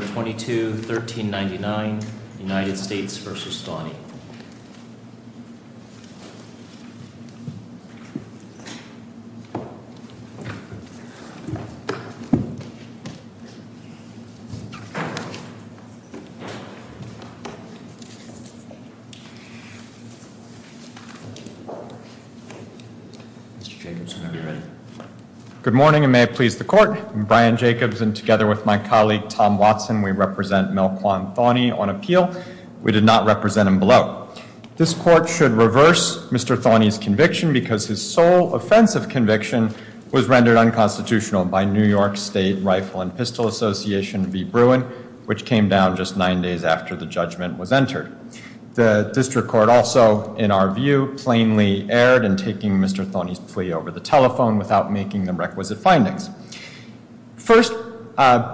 Mr. Jacobson, are you ready? Good morning, and may it please the court. I'm Brian Jacobson, and together with my colleague Tom Watson, we represent Mel Kwan Thawney on appeal. We did not represent him below. This court should reverse Mr. Thawney's conviction because his sole offensive conviction was rendered unconstitutional by New York State Rifle and Pistol Association v. Bruin, which came down just nine days after the judgment was entered. The district court also, in our view, plainly erred in taking Mr. Thawney's plea over the telephone without making the requisite findings. First,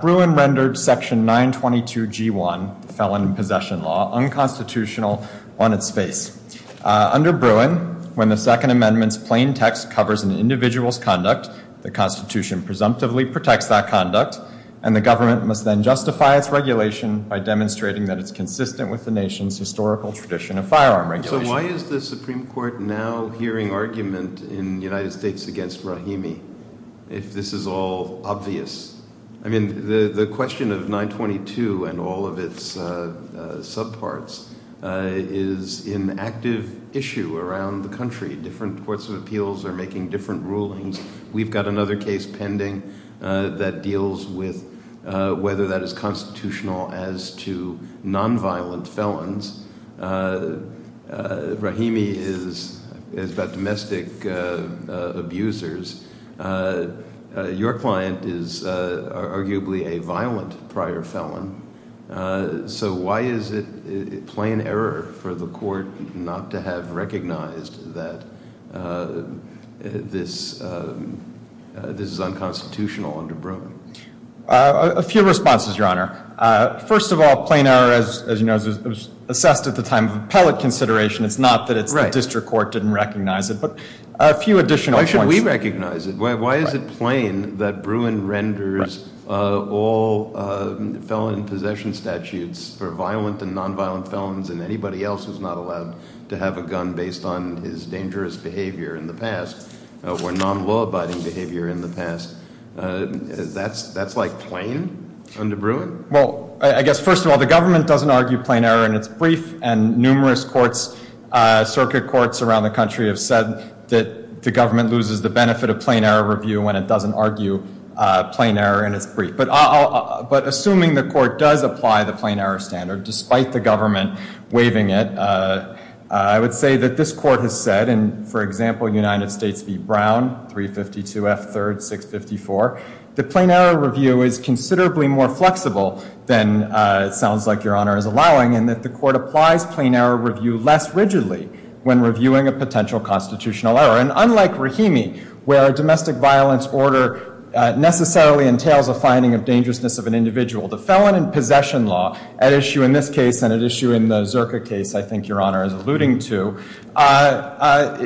Bruin rendered Section 922G1, the Felon in Possession Law, unconstitutional on its face. Under Bruin, when the Second Amendment's plain text covers an individual's conduct, the Constitution presumptively protects that conduct, and the government must then justify its regulation by demonstrating that it's consistent with the nation's historical tradition of firearm regulation. So why is the Supreme Court now hearing argument in United States against Rahimi if this is all obvious? I mean, the question of 922 and all of its subparts is an active issue around the country. Different courts of appeals are making different rulings. We've got another case pending that deals with whether that is constitutional as to nonviolent felons. Rahimi is about domestic abusers. Your client is arguably a violent prior felon. So why is it plain error for the court not to have recognized that this is unconstitutional under Bruin? A few responses, Your Honor. First of all, plain error, as you know, was assessed at the time of appellate consideration. It's not that the district court didn't recognize it, but a few additional points. Why should we recognize it? Why is it plain that Bruin renders all felon possession statutes for violent and nonviolent felons and anybody else who's not allowed to have a gun based on his dangerous behavior in the past or non-law-abiding behavior in the past? That's like plain under Bruin? Well, I guess first of all, the government doesn't argue plain error in its brief, and numerous courts, circuit courts around the country have said that the government loses the benefit of plain error review when it doesn't argue plain error in its brief. But assuming the court does apply the plain error standard, despite the government waiving it, I would say that this court has said, and for example, United States v. Brown, 352 F. 3rd. 654, that plain error review is considerably more flexible than it sounds like Your Honor is allowing, and that the court applies plain error review less rigidly when reviewing a potential constitutional error. And unlike Rahimi, where a domestic violence order necessarily entails a finding of dangerousness of an individual, the felon in possession law, an issue in this case and an issue in the Zerka case I think Your Honor is alluding to,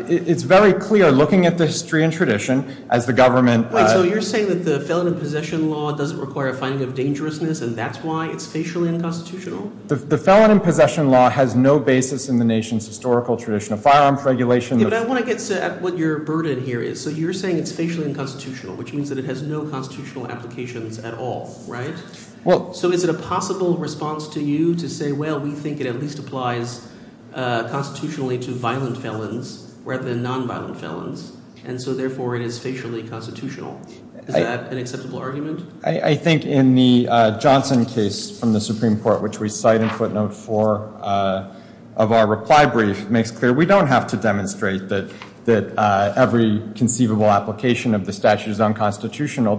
it's very clear, looking at the history and tradition, as the government Wait, so you're saying that the felon in possession law doesn't require a finding of dangerousness, and that's why it's facially unconstitutional? The felon in possession law has no basis in the nation's historical tradition of firearms regulation Yeah, but I want to get at what your burden here is. So you're saying it's facially unconstitutional, which means that it has no constitutional applications at all, right? So is it a possible response to you to say, well, we think it at least applies constitutionally to violent felons rather than nonviolent felons, and so therefore it is facially constitutional? Is that an acceptable argument? I think in the Johnson case from the Supreme Court, which we cite in footnote 4 of our reply brief, it makes clear we don't have to demonstrate that every conceivable application of the statute is unconstitutional.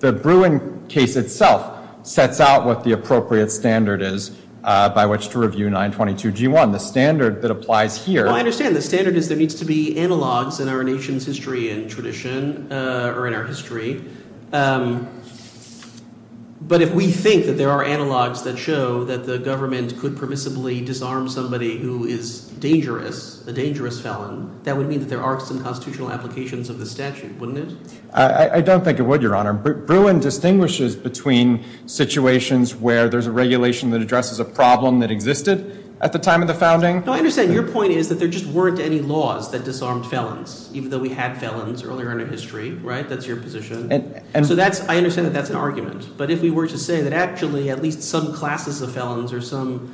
The Bruin case itself sets out what the appropriate standard is by which to review 922 G1. The standard that applies here Well, I understand the standard is there needs to be analogs in our nation's history and tradition, or in our history. But if we think that there are analogs that show that the government could permissibly disarm somebody who is dangerous, a dangerous felon, that would mean that there are some constitutional applications of the statute, wouldn't it? I don't think it would, Your Honor. Bruin distinguishes between situations where there's a regulation that addresses a problem that existed at the time of the founding. No, I understand. Your point is that there just weren't any laws that disarmed felons, even though we had felons earlier in our history, right? That's your position. So I understand that that's an argument. But if we were to say that actually at least some classes of felons or some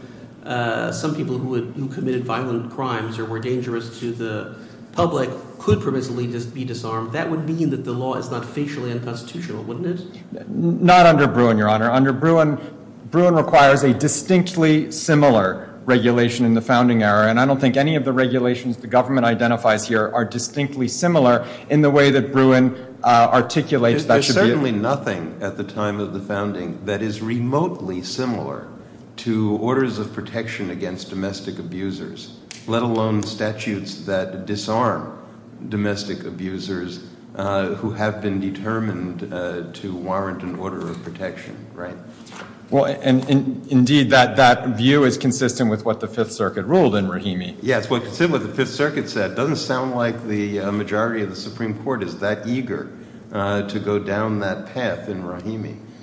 people who committed violent crimes or were dangerous to the public could permissibly be disarmed, that would mean that the law is not facially unconstitutional, wouldn't it? Not under Bruin, Your Honor. Bruin requires a distinctly similar regulation in the founding era, and I don't think any of the regulations the government identifies here are distinctly similar in the way that Bruin articulates that. It is remotely similar to orders of protection against domestic abusers, let alone statutes that disarm domestic abusers who have been determined to warrant an order of protection, right? Well, indeed, that view is consistent with what the Fifth Circuit ruled in Rahimi.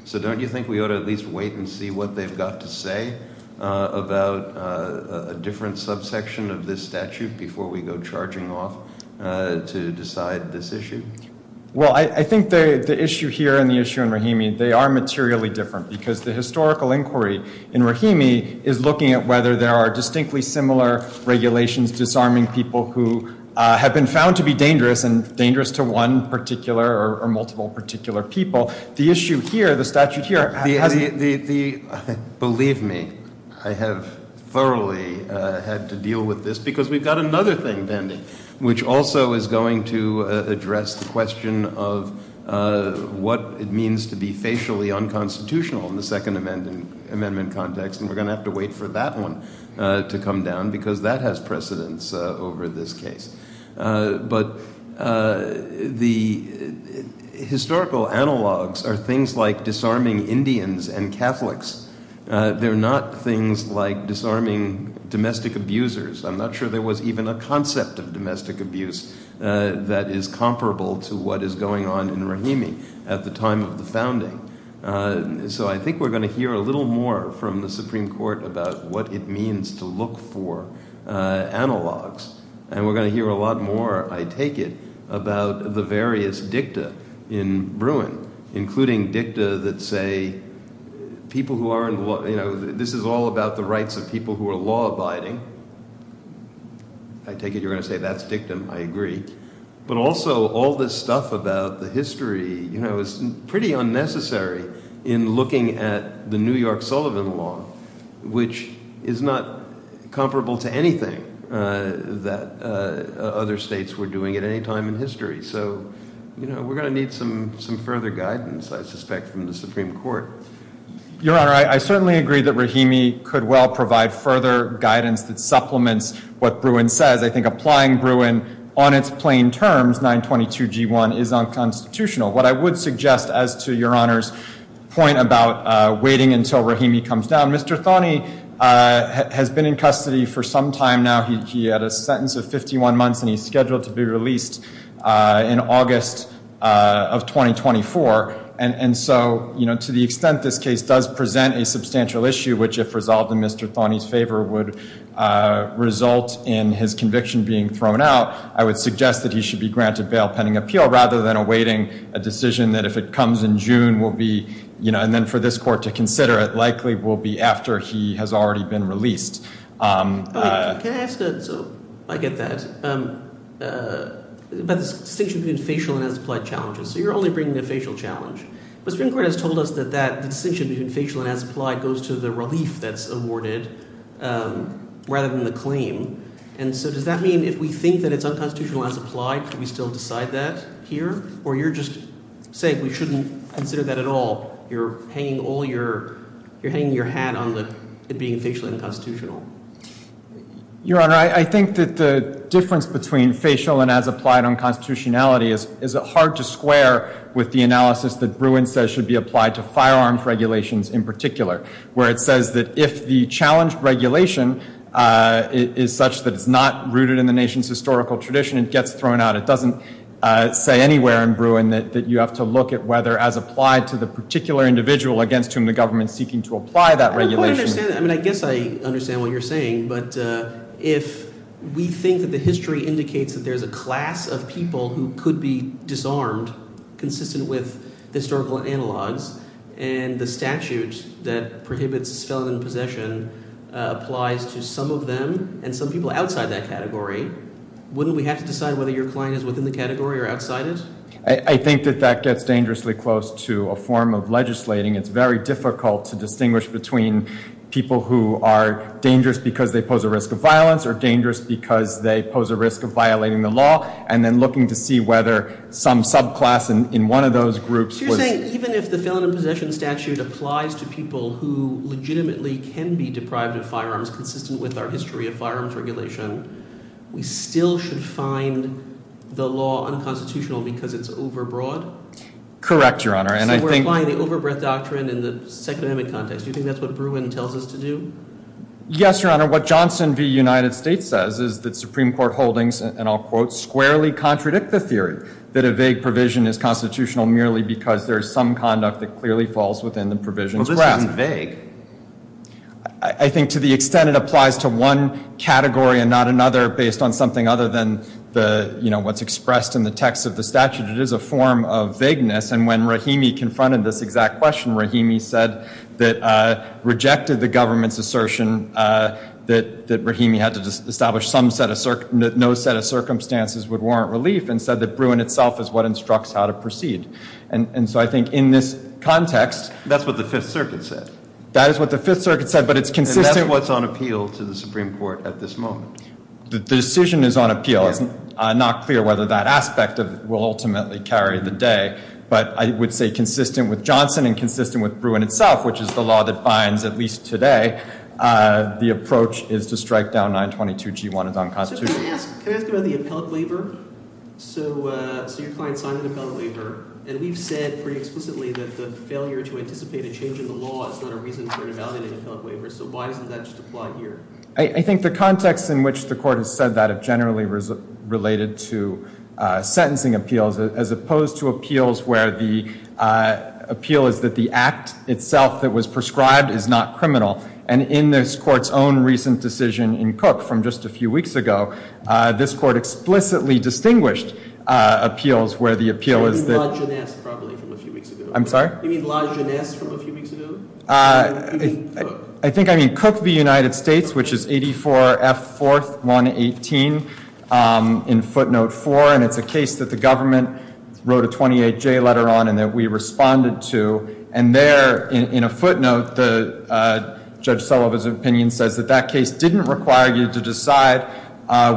So don't you think we ought to at least wait and see what they've got to say about a different subsection of this statute before we go charging off to decide this issue? Well, I think the issue here and the issue in Rahimi, they are materially different because the historical inquiry in Rahimi is looking at whether there are distinctly similar regulations disarming people who have been found to be dangerous and dangerous to one particular or multiple particular people. The issue here, the statute here, believe me, I have thoroughly had to deal with this because we've got another thing pending, which also is going to address the question of what it means to be facially unconstitutional in the Second Amendment context. And we're going to have to wait for that one to come down because that has precedence over this case. But the historical analogs are things like disarming Indians and Catholics. They're not things like disarming domestic abusers. I'm not sure there was even a concept of domestic abuse that is comparable to what is going on in Rahimi at the time of the founding. So I think we're going to hear a little more from the Supreme Court about what it means to look for analogs. And we're going to hear a lot more, I take it, about the various dicta in Bruin, including dicta that say people who are – this is all about the rights of people who are law-abiding. I take it you're going to say that's dictum. I agree. But also all this stuff about the history is pretty unnecessary in looking at the New York Sullivan law, which is not comparable to anything that other states were doing at any time in history. So we're going to need some further guidance, I suspect, from the Supreme Court. Your Honor, I certainly agree that Rahimi could well provide further guidance that supplements what Bruin says. I think applying Bruin on its plain terms, 922G1, is unconstitutional. What I would suggest as to Your Honor's point about waiting until Rahimi comes down, Mr. Thoney has been in custody for some time now. He had a sentence of 51 months, and he's scheduled to be released in August of 2024. And so to the extent this case does present a substantial issue, which if resolved in Mr. Thoney's favor would result in his conviction being thrown out, I would suggest that he should be granted bail pending appeal rather than awaiting a decision that if it comes in June will be – and then for this court to consider it likely will be after he has already been released. Can I ask a – so I get that – about the distinction between facial and as applied challenges. So you're only bringing the facial challenge, but the Supreme Court has told us that that distinction between facial and as applied goes to the relief that's awarded rather than the claim. And so does that mean if we think that it's unconstitutional and as applied, can we still decide that here? Or you're just saying we shouldn't consider that at all? You're hanging all your – you're hanging your hat on the – it being facially unconstitutional. Your Honor, I think that the difference between facial and as applied unconstitutionality is hard to square with the analysis that Bruin says should be applied to firearms regulations in particular, where it says that if the challenge regulation is such that it's not rooted in the nation's historical tradition and gets thrown out, it doesn't say anywhere in Bruin that you have to look at whether as applied to the particular individual against whom the government is seeking to apply that regulation. I mean I guess I understand what you're saying, but if we think that the history indicates that there's a class of people who could be disarmed consistent with historical analogs and the statute that prohibits felon in possession applies to some of them and some people outside that category, wouldn't we have to decide whether your client is within the category or outside it? I think that that gets dangerously close to a form of legislating. It's very difficult to distinguish between people who are dangerous because they pose a risk of violence or dangerous because they pose a risk of violating the law and then looking to see whether some subclass in one of those groups was – So if we apply this to people who legitimately can be deprived of firearms consistent with our history of firearms regulation, we still should find the law unconstitutional because it's overbroad? Correct, Your Honor. And I think – So we're applying the overbreadth doctrine in the Second Amendment context. Do you think that's what Bruin tells us to do? Yes, Your Honor. What Johnson v. United States says is that Supreme Court holdings, and I'll quote, squarely contradict the theory that a vague provision is constitutional merely because there is some conduct that clearly falls within the provision's grasp. Well, this isn't vague. I think to the extent it applies to one category and not another based on something other than what's expressed in the text of the statute, it is a form of vagueness. And when Rahimi confronted this exact question, Rahimi said that – rejected the government's assertion that Rahimi had to establish some set of – no set of circumstances would warrant relief and said that Bruin itself is what instructs how to proceed. And so I think in this context – That's what the Fifth Circuit said. That is what the Fifth Circuit said, but it's consistent – And that's what's on appeal to the Supreme Court at this moment. The decision is on appeal. It's not clear whether that aspect will ultimately carry the day. But I would say consistent with Johnson and consistent with Bruin itself, which is the law that binds at least today, the approach is to strike down 922G1 as unconstitutional. Can I ask about the appellate waiver? So your client signed an appellate waiver, and we've said pretty explicitly that the failure to anticipate a change in the law is not a reason for invalidating an appellate waiver. So why doesn't that just apply here? I think the context in which the Court has said that is generally related to sentencing appeals as opposed to appeals where the appeal is that the act itself that was prescribed is not criminal. And in this Court's own recent decision in Cook from just a few weeks ago, this Court explicitly distinguished appeals where the appeal is that – You mean Lodge and S. probably from a few weeks ago. I'm sorry? You mean Lodge and S. from a few weeks ago? I think I mean Cook v. United States, which is 84F4118 in footnote 4. And it's a case that the government wrote a 28J letter on and that we responded to. And there in a footnote, Judge Sullivan's opinion says that that case didn't require you to decide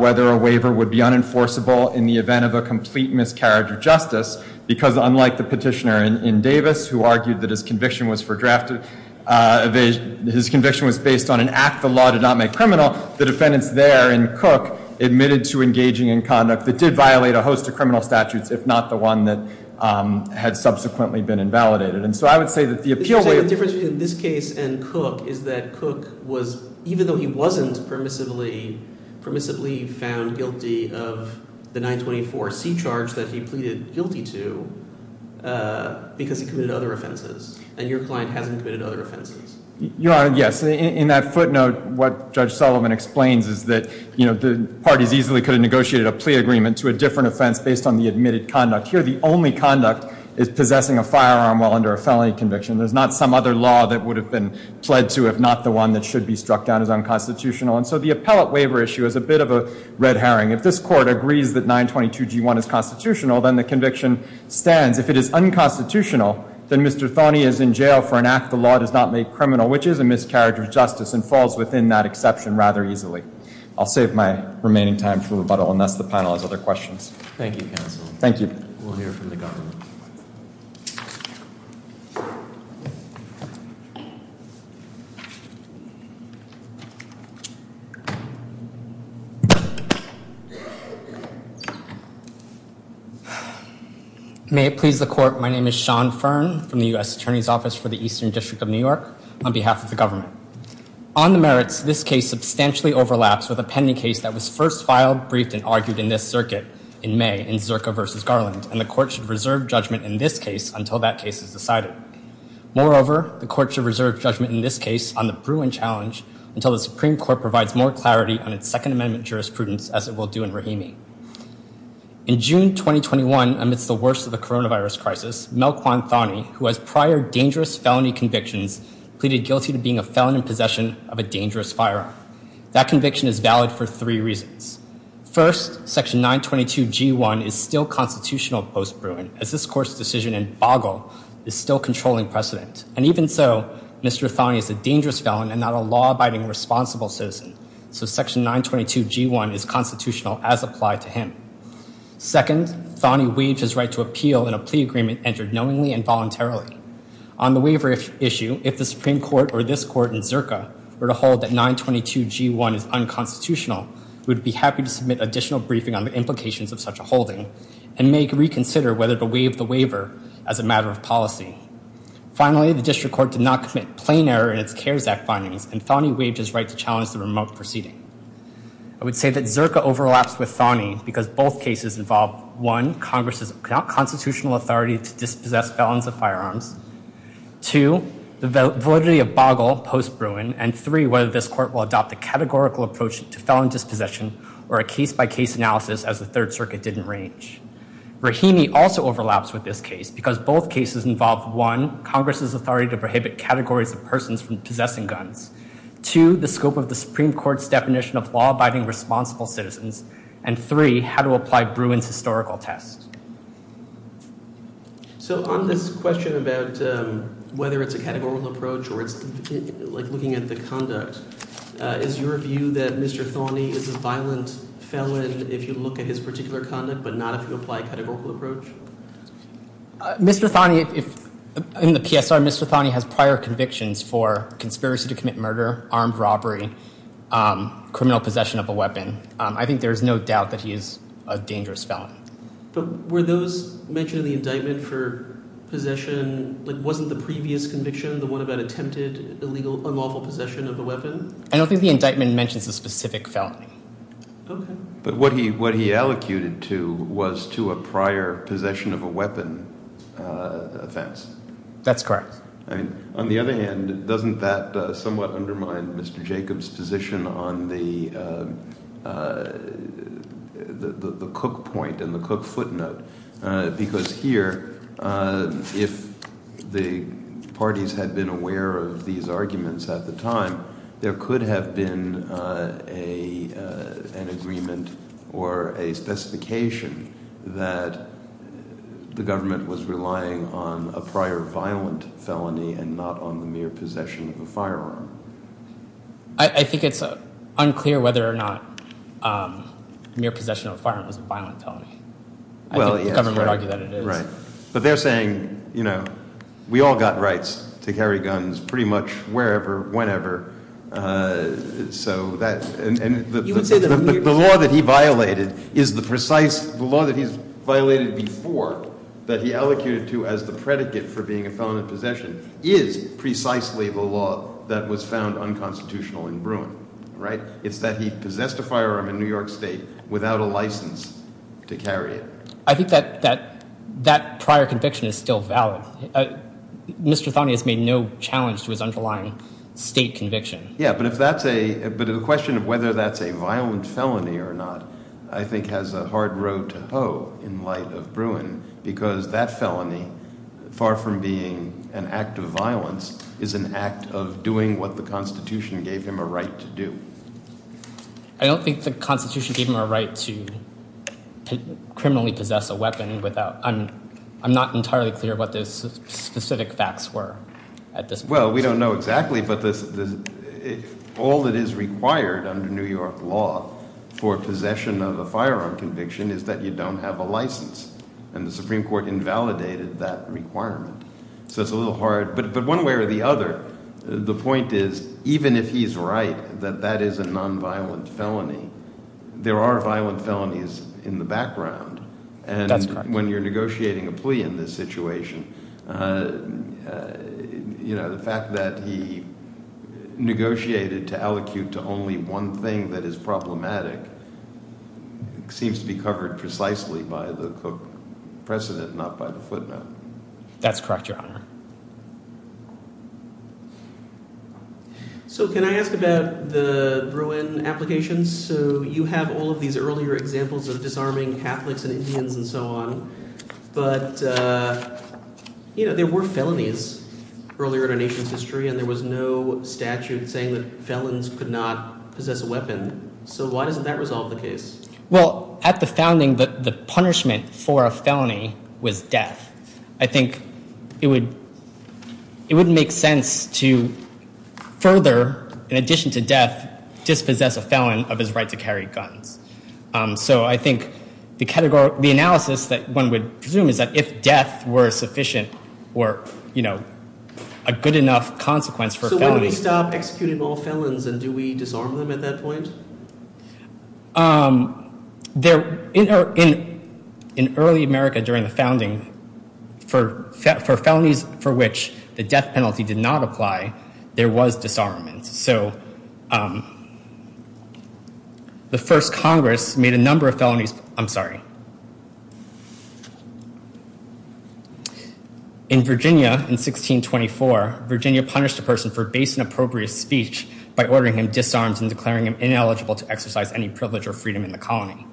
whether a waiver would be unenforceable in the event of a complete miscarriage of justice because unlike the petitioner in Davis who argued that his conviction was based on an act the law did not make criminal, the defendants there in Cook admitted to engaging in conduct that did violate a host of criminal statutes if not the one that had subsequently been invalidated. So I would say that the appeal waiver – The difference between this case and Cook is that Cook was – even though he wasn't permissively found guilty of the 924C charge that he pleaded guilty to because he committed other offenses. And your client hasn't committed other offenses. Your Honor, yes. In that footnote, what Judge Sullivan explains is that the parties easily could have negotiated a plea agreement to a different offense based on the admitted conduct. Here, the only conduct is possessing a firearm while under a felony conviction. There's not some other law that would have been pled to if not the one that should be struck down as unconstitutional. And so the appellate waiver issue is a bit of a red herring. If this Court agrees that 922G1 is constitutional, then the conviction stands. If it is unconstitutional, then Mr. Thoney is in jail for an act the law does not make criminal, which is a miscarriage of justice and falls within that exception rather easily. I'll save my remaining time for rebuttal unless the panel has other questions. Thank you, Counsel. Thank you. We'll hear from the government. May it please the Court, my name is Sean Fearn from the U.S. Attorney's Office for the Eastern District of New York on behalf of the government. On the merits, this case substantially overlaps with a pending case that was first filed, briefed, and argued in this circuit in May in Zirka v. Garland. And the Court should reserve judgment in this case until that case is decided. Moreover, the Court should reserve judgment in this case on the Bruin Challenge until the Supreme Court provides more clarity on its Second Amendment jurisprudence as it will do in Rahimi. In June 2021, amidst the worst of the coronavirus crisis, Mel Kwan Thoney, who has prior dangerous felony convictions, pleaded guilty to being a felon in possession of a dangerous firearm. That conviction is valid for three reasons. First, Section 922G1 is still constitutional post-Bruin, as this Court's decision in Boggle is still controlling precedent. And even so, Mr. Thoney is a dangerous felon and not a law-abiding responsible citizen, so Section 922G1 is constitutional as applied to him. Second, Thoney waived his right to appeal in a plea agreement entered knowingly and voluntarily. On the waiver issue, if the Supreme Court or this Court in Zirka were to hold that 922G1 is unconstitutional, we would be happy to submit additional briefing on the implications of such a holding and may reconsider whether to waive the waiver as a matter of policy. Finally, the District Court did not commit plain error in its CARES Act findings, and Thoney waived his right to challenge the remote proceeding. I would say that Zirka overlaps with Thoney because both cases involve, one, Congress' constitutional authority to dispossess felons of firearms, two, the validity of Boggle post-Bruin, and three, whether this Court will adopt a categorical approach to felon dispossession or a case-by-case analysis as the Third Circuit did in Range. Rahimi also overlaps with this case because both cases involve, one, Congress' authority to prohibit categories of persons from possessing guns, two, the scope of the Supreme Court's definition of law-abiding responsible citizens, and three, how to apply Bruin's historical test. So on this question about whether it's a categorical approach or it's looking at the conduct, is your view that Mr. Thoney is a violent felon if you look at his particular conduct but not if you apply a categorical approach? Mr. Thoney, in the PSR, Mr. Thoney has prior convictions for conspiracy to commit murder, armed robbery, criminal possession of a weapon. I think there is no doubt that he is a dangerous felon. But were those mentioned in the indictment for possession, like wasn't the previous conviction the one about attempted illegal unlawful possession of a weapon? I don't think the indictment mentions a specific felony. Okay. But what he allocated to was to a prior possession of a weapon offense. That's correct. I mean, on the other hand, doesn't that somewhat undermine Mr. Jacobs' position on the Cook point and the Cook footnote? Because here, if the parties had been aware of these arguments at the time, there could have been an agreement or a specification that the government was relying on a prior violent felony and not on the mere possession of a firearm. I think it's unclear whether or not mere possession of a firearm was a violent felony. The government would argue that it is. Right. But they're saying, you know, we all got rights to carry guns pretty much wherever, whenever. So that, and the law that he violated is the precise, the law that he's violated before that he allocated to as the predicate for being a felon in possession is precisely the law that was found unconstitutional in Bruin, right? It's that he possessed a firearm in New York State without a license to carry it. I think that prior conviction is still valid. Mr. Thonney has made no challenge to his underlying state conviction. Yeah, but if that's a, but the question of whether that's a violent felony or not, I think has a hard road to hoe in light of Bruin, because that felony, far from being an act of violence, is an act of doing what the Constitution gave him a right to do. I don't think the Constitution gave him a right to criminally possess a weapon without, I'm not entirely clear what those specific facts were at this point. Well, we don't know exactly, but all that is required under New York law for possession of a firearm conviction is that you don't have a license, and the Supreme Court invalidated that requirement. So it's a little hard, but one way or the other, the point is, even if he's right that that is a nonviolent felony, there are violent felonies in the background. That's correct. And when you're negotiating a plea in this situation, the fact that he negotiated to allocute to only one thing that is problematic seems to be covered precisely by the Cook precedent, not by the footnote. That's correct, Your Honor. So can I ask about the Bruin application? So you have all of these earlier examples of disarming Catholics and Indians and so on, but there were felonies earlier in our nation's history, and there was no statute saying that felons could not possess a weapon. So why doesn't that resolve the case? Well, at the founding, the punishment for a felony was death. I think it would make sense to further, in addition to death, dispossess a felon of his right to carry guns. So I think the analysis that one would presume is that if death were sufficient or a good enough consequence for a felony— So why don't we stop executing all felons, and do we disarm them at that point? In early America during the founding, for felonies for which the death penalty did not apply, there was disarmament. So the first Congress made a number of felonies—I'm sorry. In Virginia in 1624, Virginia punished a person for base and appropriate speech by ordering him disarmed and declaring him ineligible to exercise any privilege or freedom in the colony.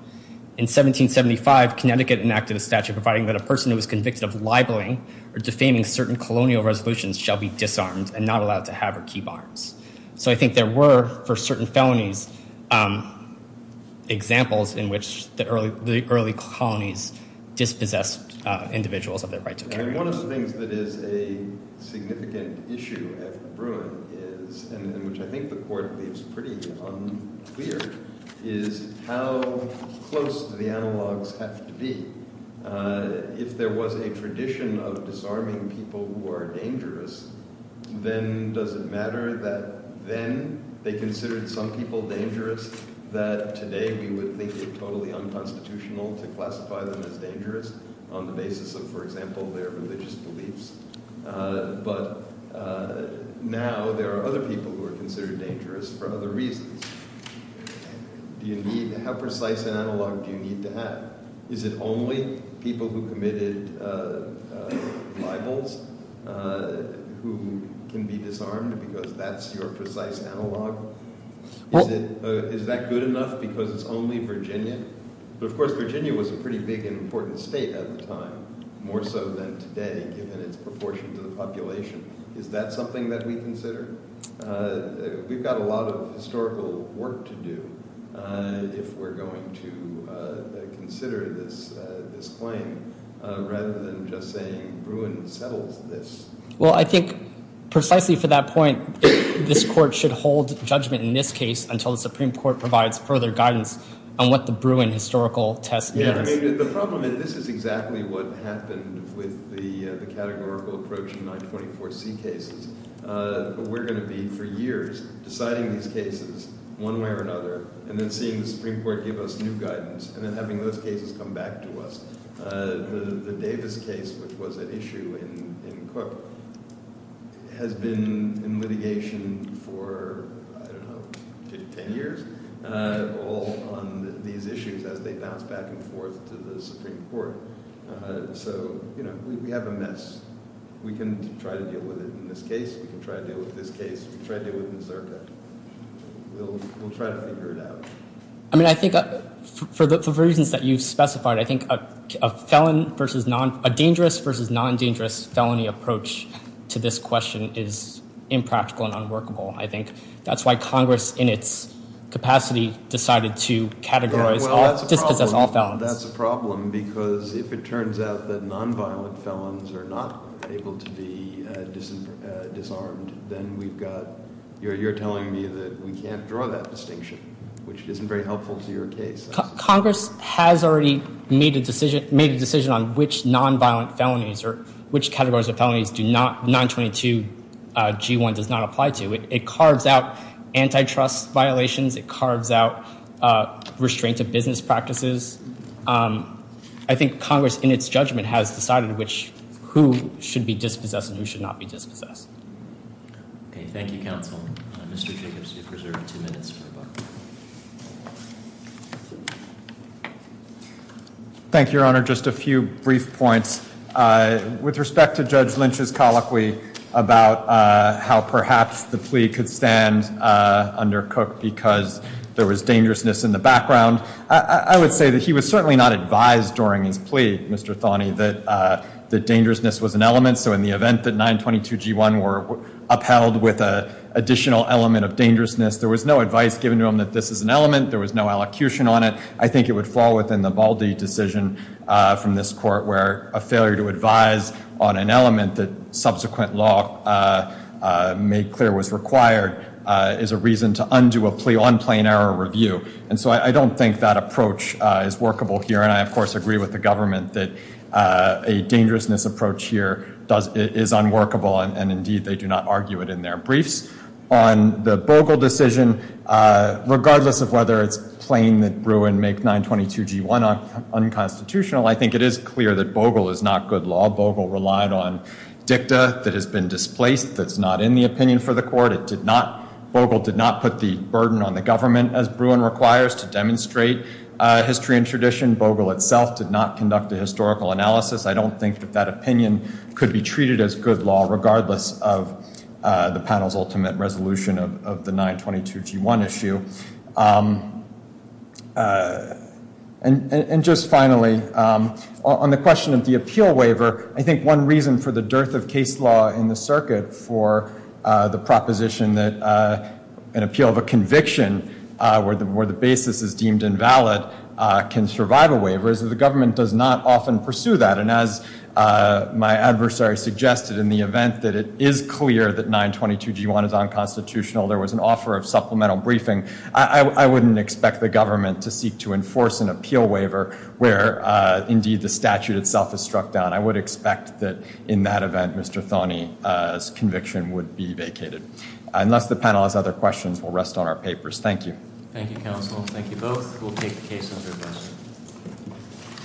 In 1775, Connecticut enacted a statute providing that a person who was convicted of libeling or defaming certain colonial resolutions shall be disarmed and not allowed to have or keep arms. So I think there were, for certain felonies, examples in which the early colonies dispossessed individuals of their right to carry guns. One of the things that is a significant issue at the Bruin is—and which I think the Court leaves pretty unclear—is how close the analogs have to be. If there was a tradition of disarming people who are dangerous, then does it matter that then they considered some people dangerous, that today we would think it totally unconstitutional to classify them as dangerous on the basis of, for example, their religious beliefs? But now there are other people who are considered dangerous for other reasons. How precise an analog do you need to have? Is it only people who committed libels who can be disarmed because that's your precise analog? Is that good enough because it's only Virginia? But, of course, Virginia was a pretty big and important state at the time, more so than today given its proportion to the population. Is that something that we consider? We've got a lot of historical work to do if we're going to consider this claim rather than just saying Bruin settles this. Well, I think precisely for that point, this Court should hold judgment in this case until the Supreme Court provides further guidance on what the Bruin historical test means. The problem is this is exactly what happened with the categorical approach in 924C cases. We're going to be, for years, deciding these cases one way or another and then seeing the Supreme Court give us new guidance and then having those cases come back to us. The Davis case, which was an issue in Cook, has been in litigation for, I don't know, 10 years? All on these issues as they bounce back and forth to the Supreme Court. So, you know, we have a mess. We can try to deal with it in this case. We can try to deal with this case. We can try to deal with Nazirka. We'll try to figure it out. I mean, I think for the reasons that you've specified, I think a dangerous versus non-dangerous felony approach to this question is impractical and unworkable. I think that's why Congress, in its capacity, decided to categorize all dispossessed felons. That's a problem because if it turns out that non-violent felons are not able to be disarmed, then we've got, you're telling me that we can't draw that distinction, which isn't very helpful to your case. Congress has already made a decision on which non-violent felonies or which categories of felonies 922G1 does not apply to. It carves out antitrust violations. It carves out restraint of business practices. I think Congress, in its judgment, has decided which, who should be dispossessed and who should not be dispossessed. Okay. Thank you, counsel. Mr. Jacobs, you have reserved two minutes for the buck. Thank you, Your Honor. Just a few brief points. With respect to Judge Lynch's colloquy about how perhaps the plea could stand under Cook because there was dangerousness in the background, I would say that he was certainly not advised during his plea, Mr. Thonney, that dangerousness was an element. So in the event that 922G1 were upheld with an additional element of dangerousness, there was no advice given to him that this is an element. There was no elocution on it. I think it would fall within the Baldi decision from this court where a failure to advise on an element that subsequent law made clear was required is a reason to undo a plea on plain error review. And so I don't think that approach is workable here. And I, of course, agree with the government that a dangerousness approach here is unworkable. And, indeed, they do not argue it in their briefs. On the Bogle decision, regardless of whether it's plain that Bruin make 922G1 unconstitutional, I think it is clear that Bogle is not good law. Bogle relied on dicta that has been displaced, that's not in the opinion for the court. It did not—Bogle did not put the burden on the government, as Bruin requires, to demonstrate history and tradition. Bogle itself did not conduct a historical analysis. I don't think that that opinion could be treated as good law regardless of the panel's ultimate resolution of the 922G1 issue. And just finally, on the question of the appeal waiver, I think one reason for the dearth of case law in the circuit for the proposition that an appeal of a conviction where the basis is deemed invalid can survive a waiver is that the government does not often pursue that. And as my adversary suggested in the event that it is clear that 922G1 is unconstitutional, there was an offer of supplemental briefing. I wouldn't expect the government to seek to enforce an appeal waiver where, indeed, the statute itself is struck down. I would expect that in that event, Mr. Thoney's conviction would be vacated. Unless the panel has other questions, we'll rest on our papers. Thank you. Thank you, counsel. Thank you both. We'll take the case under a vote.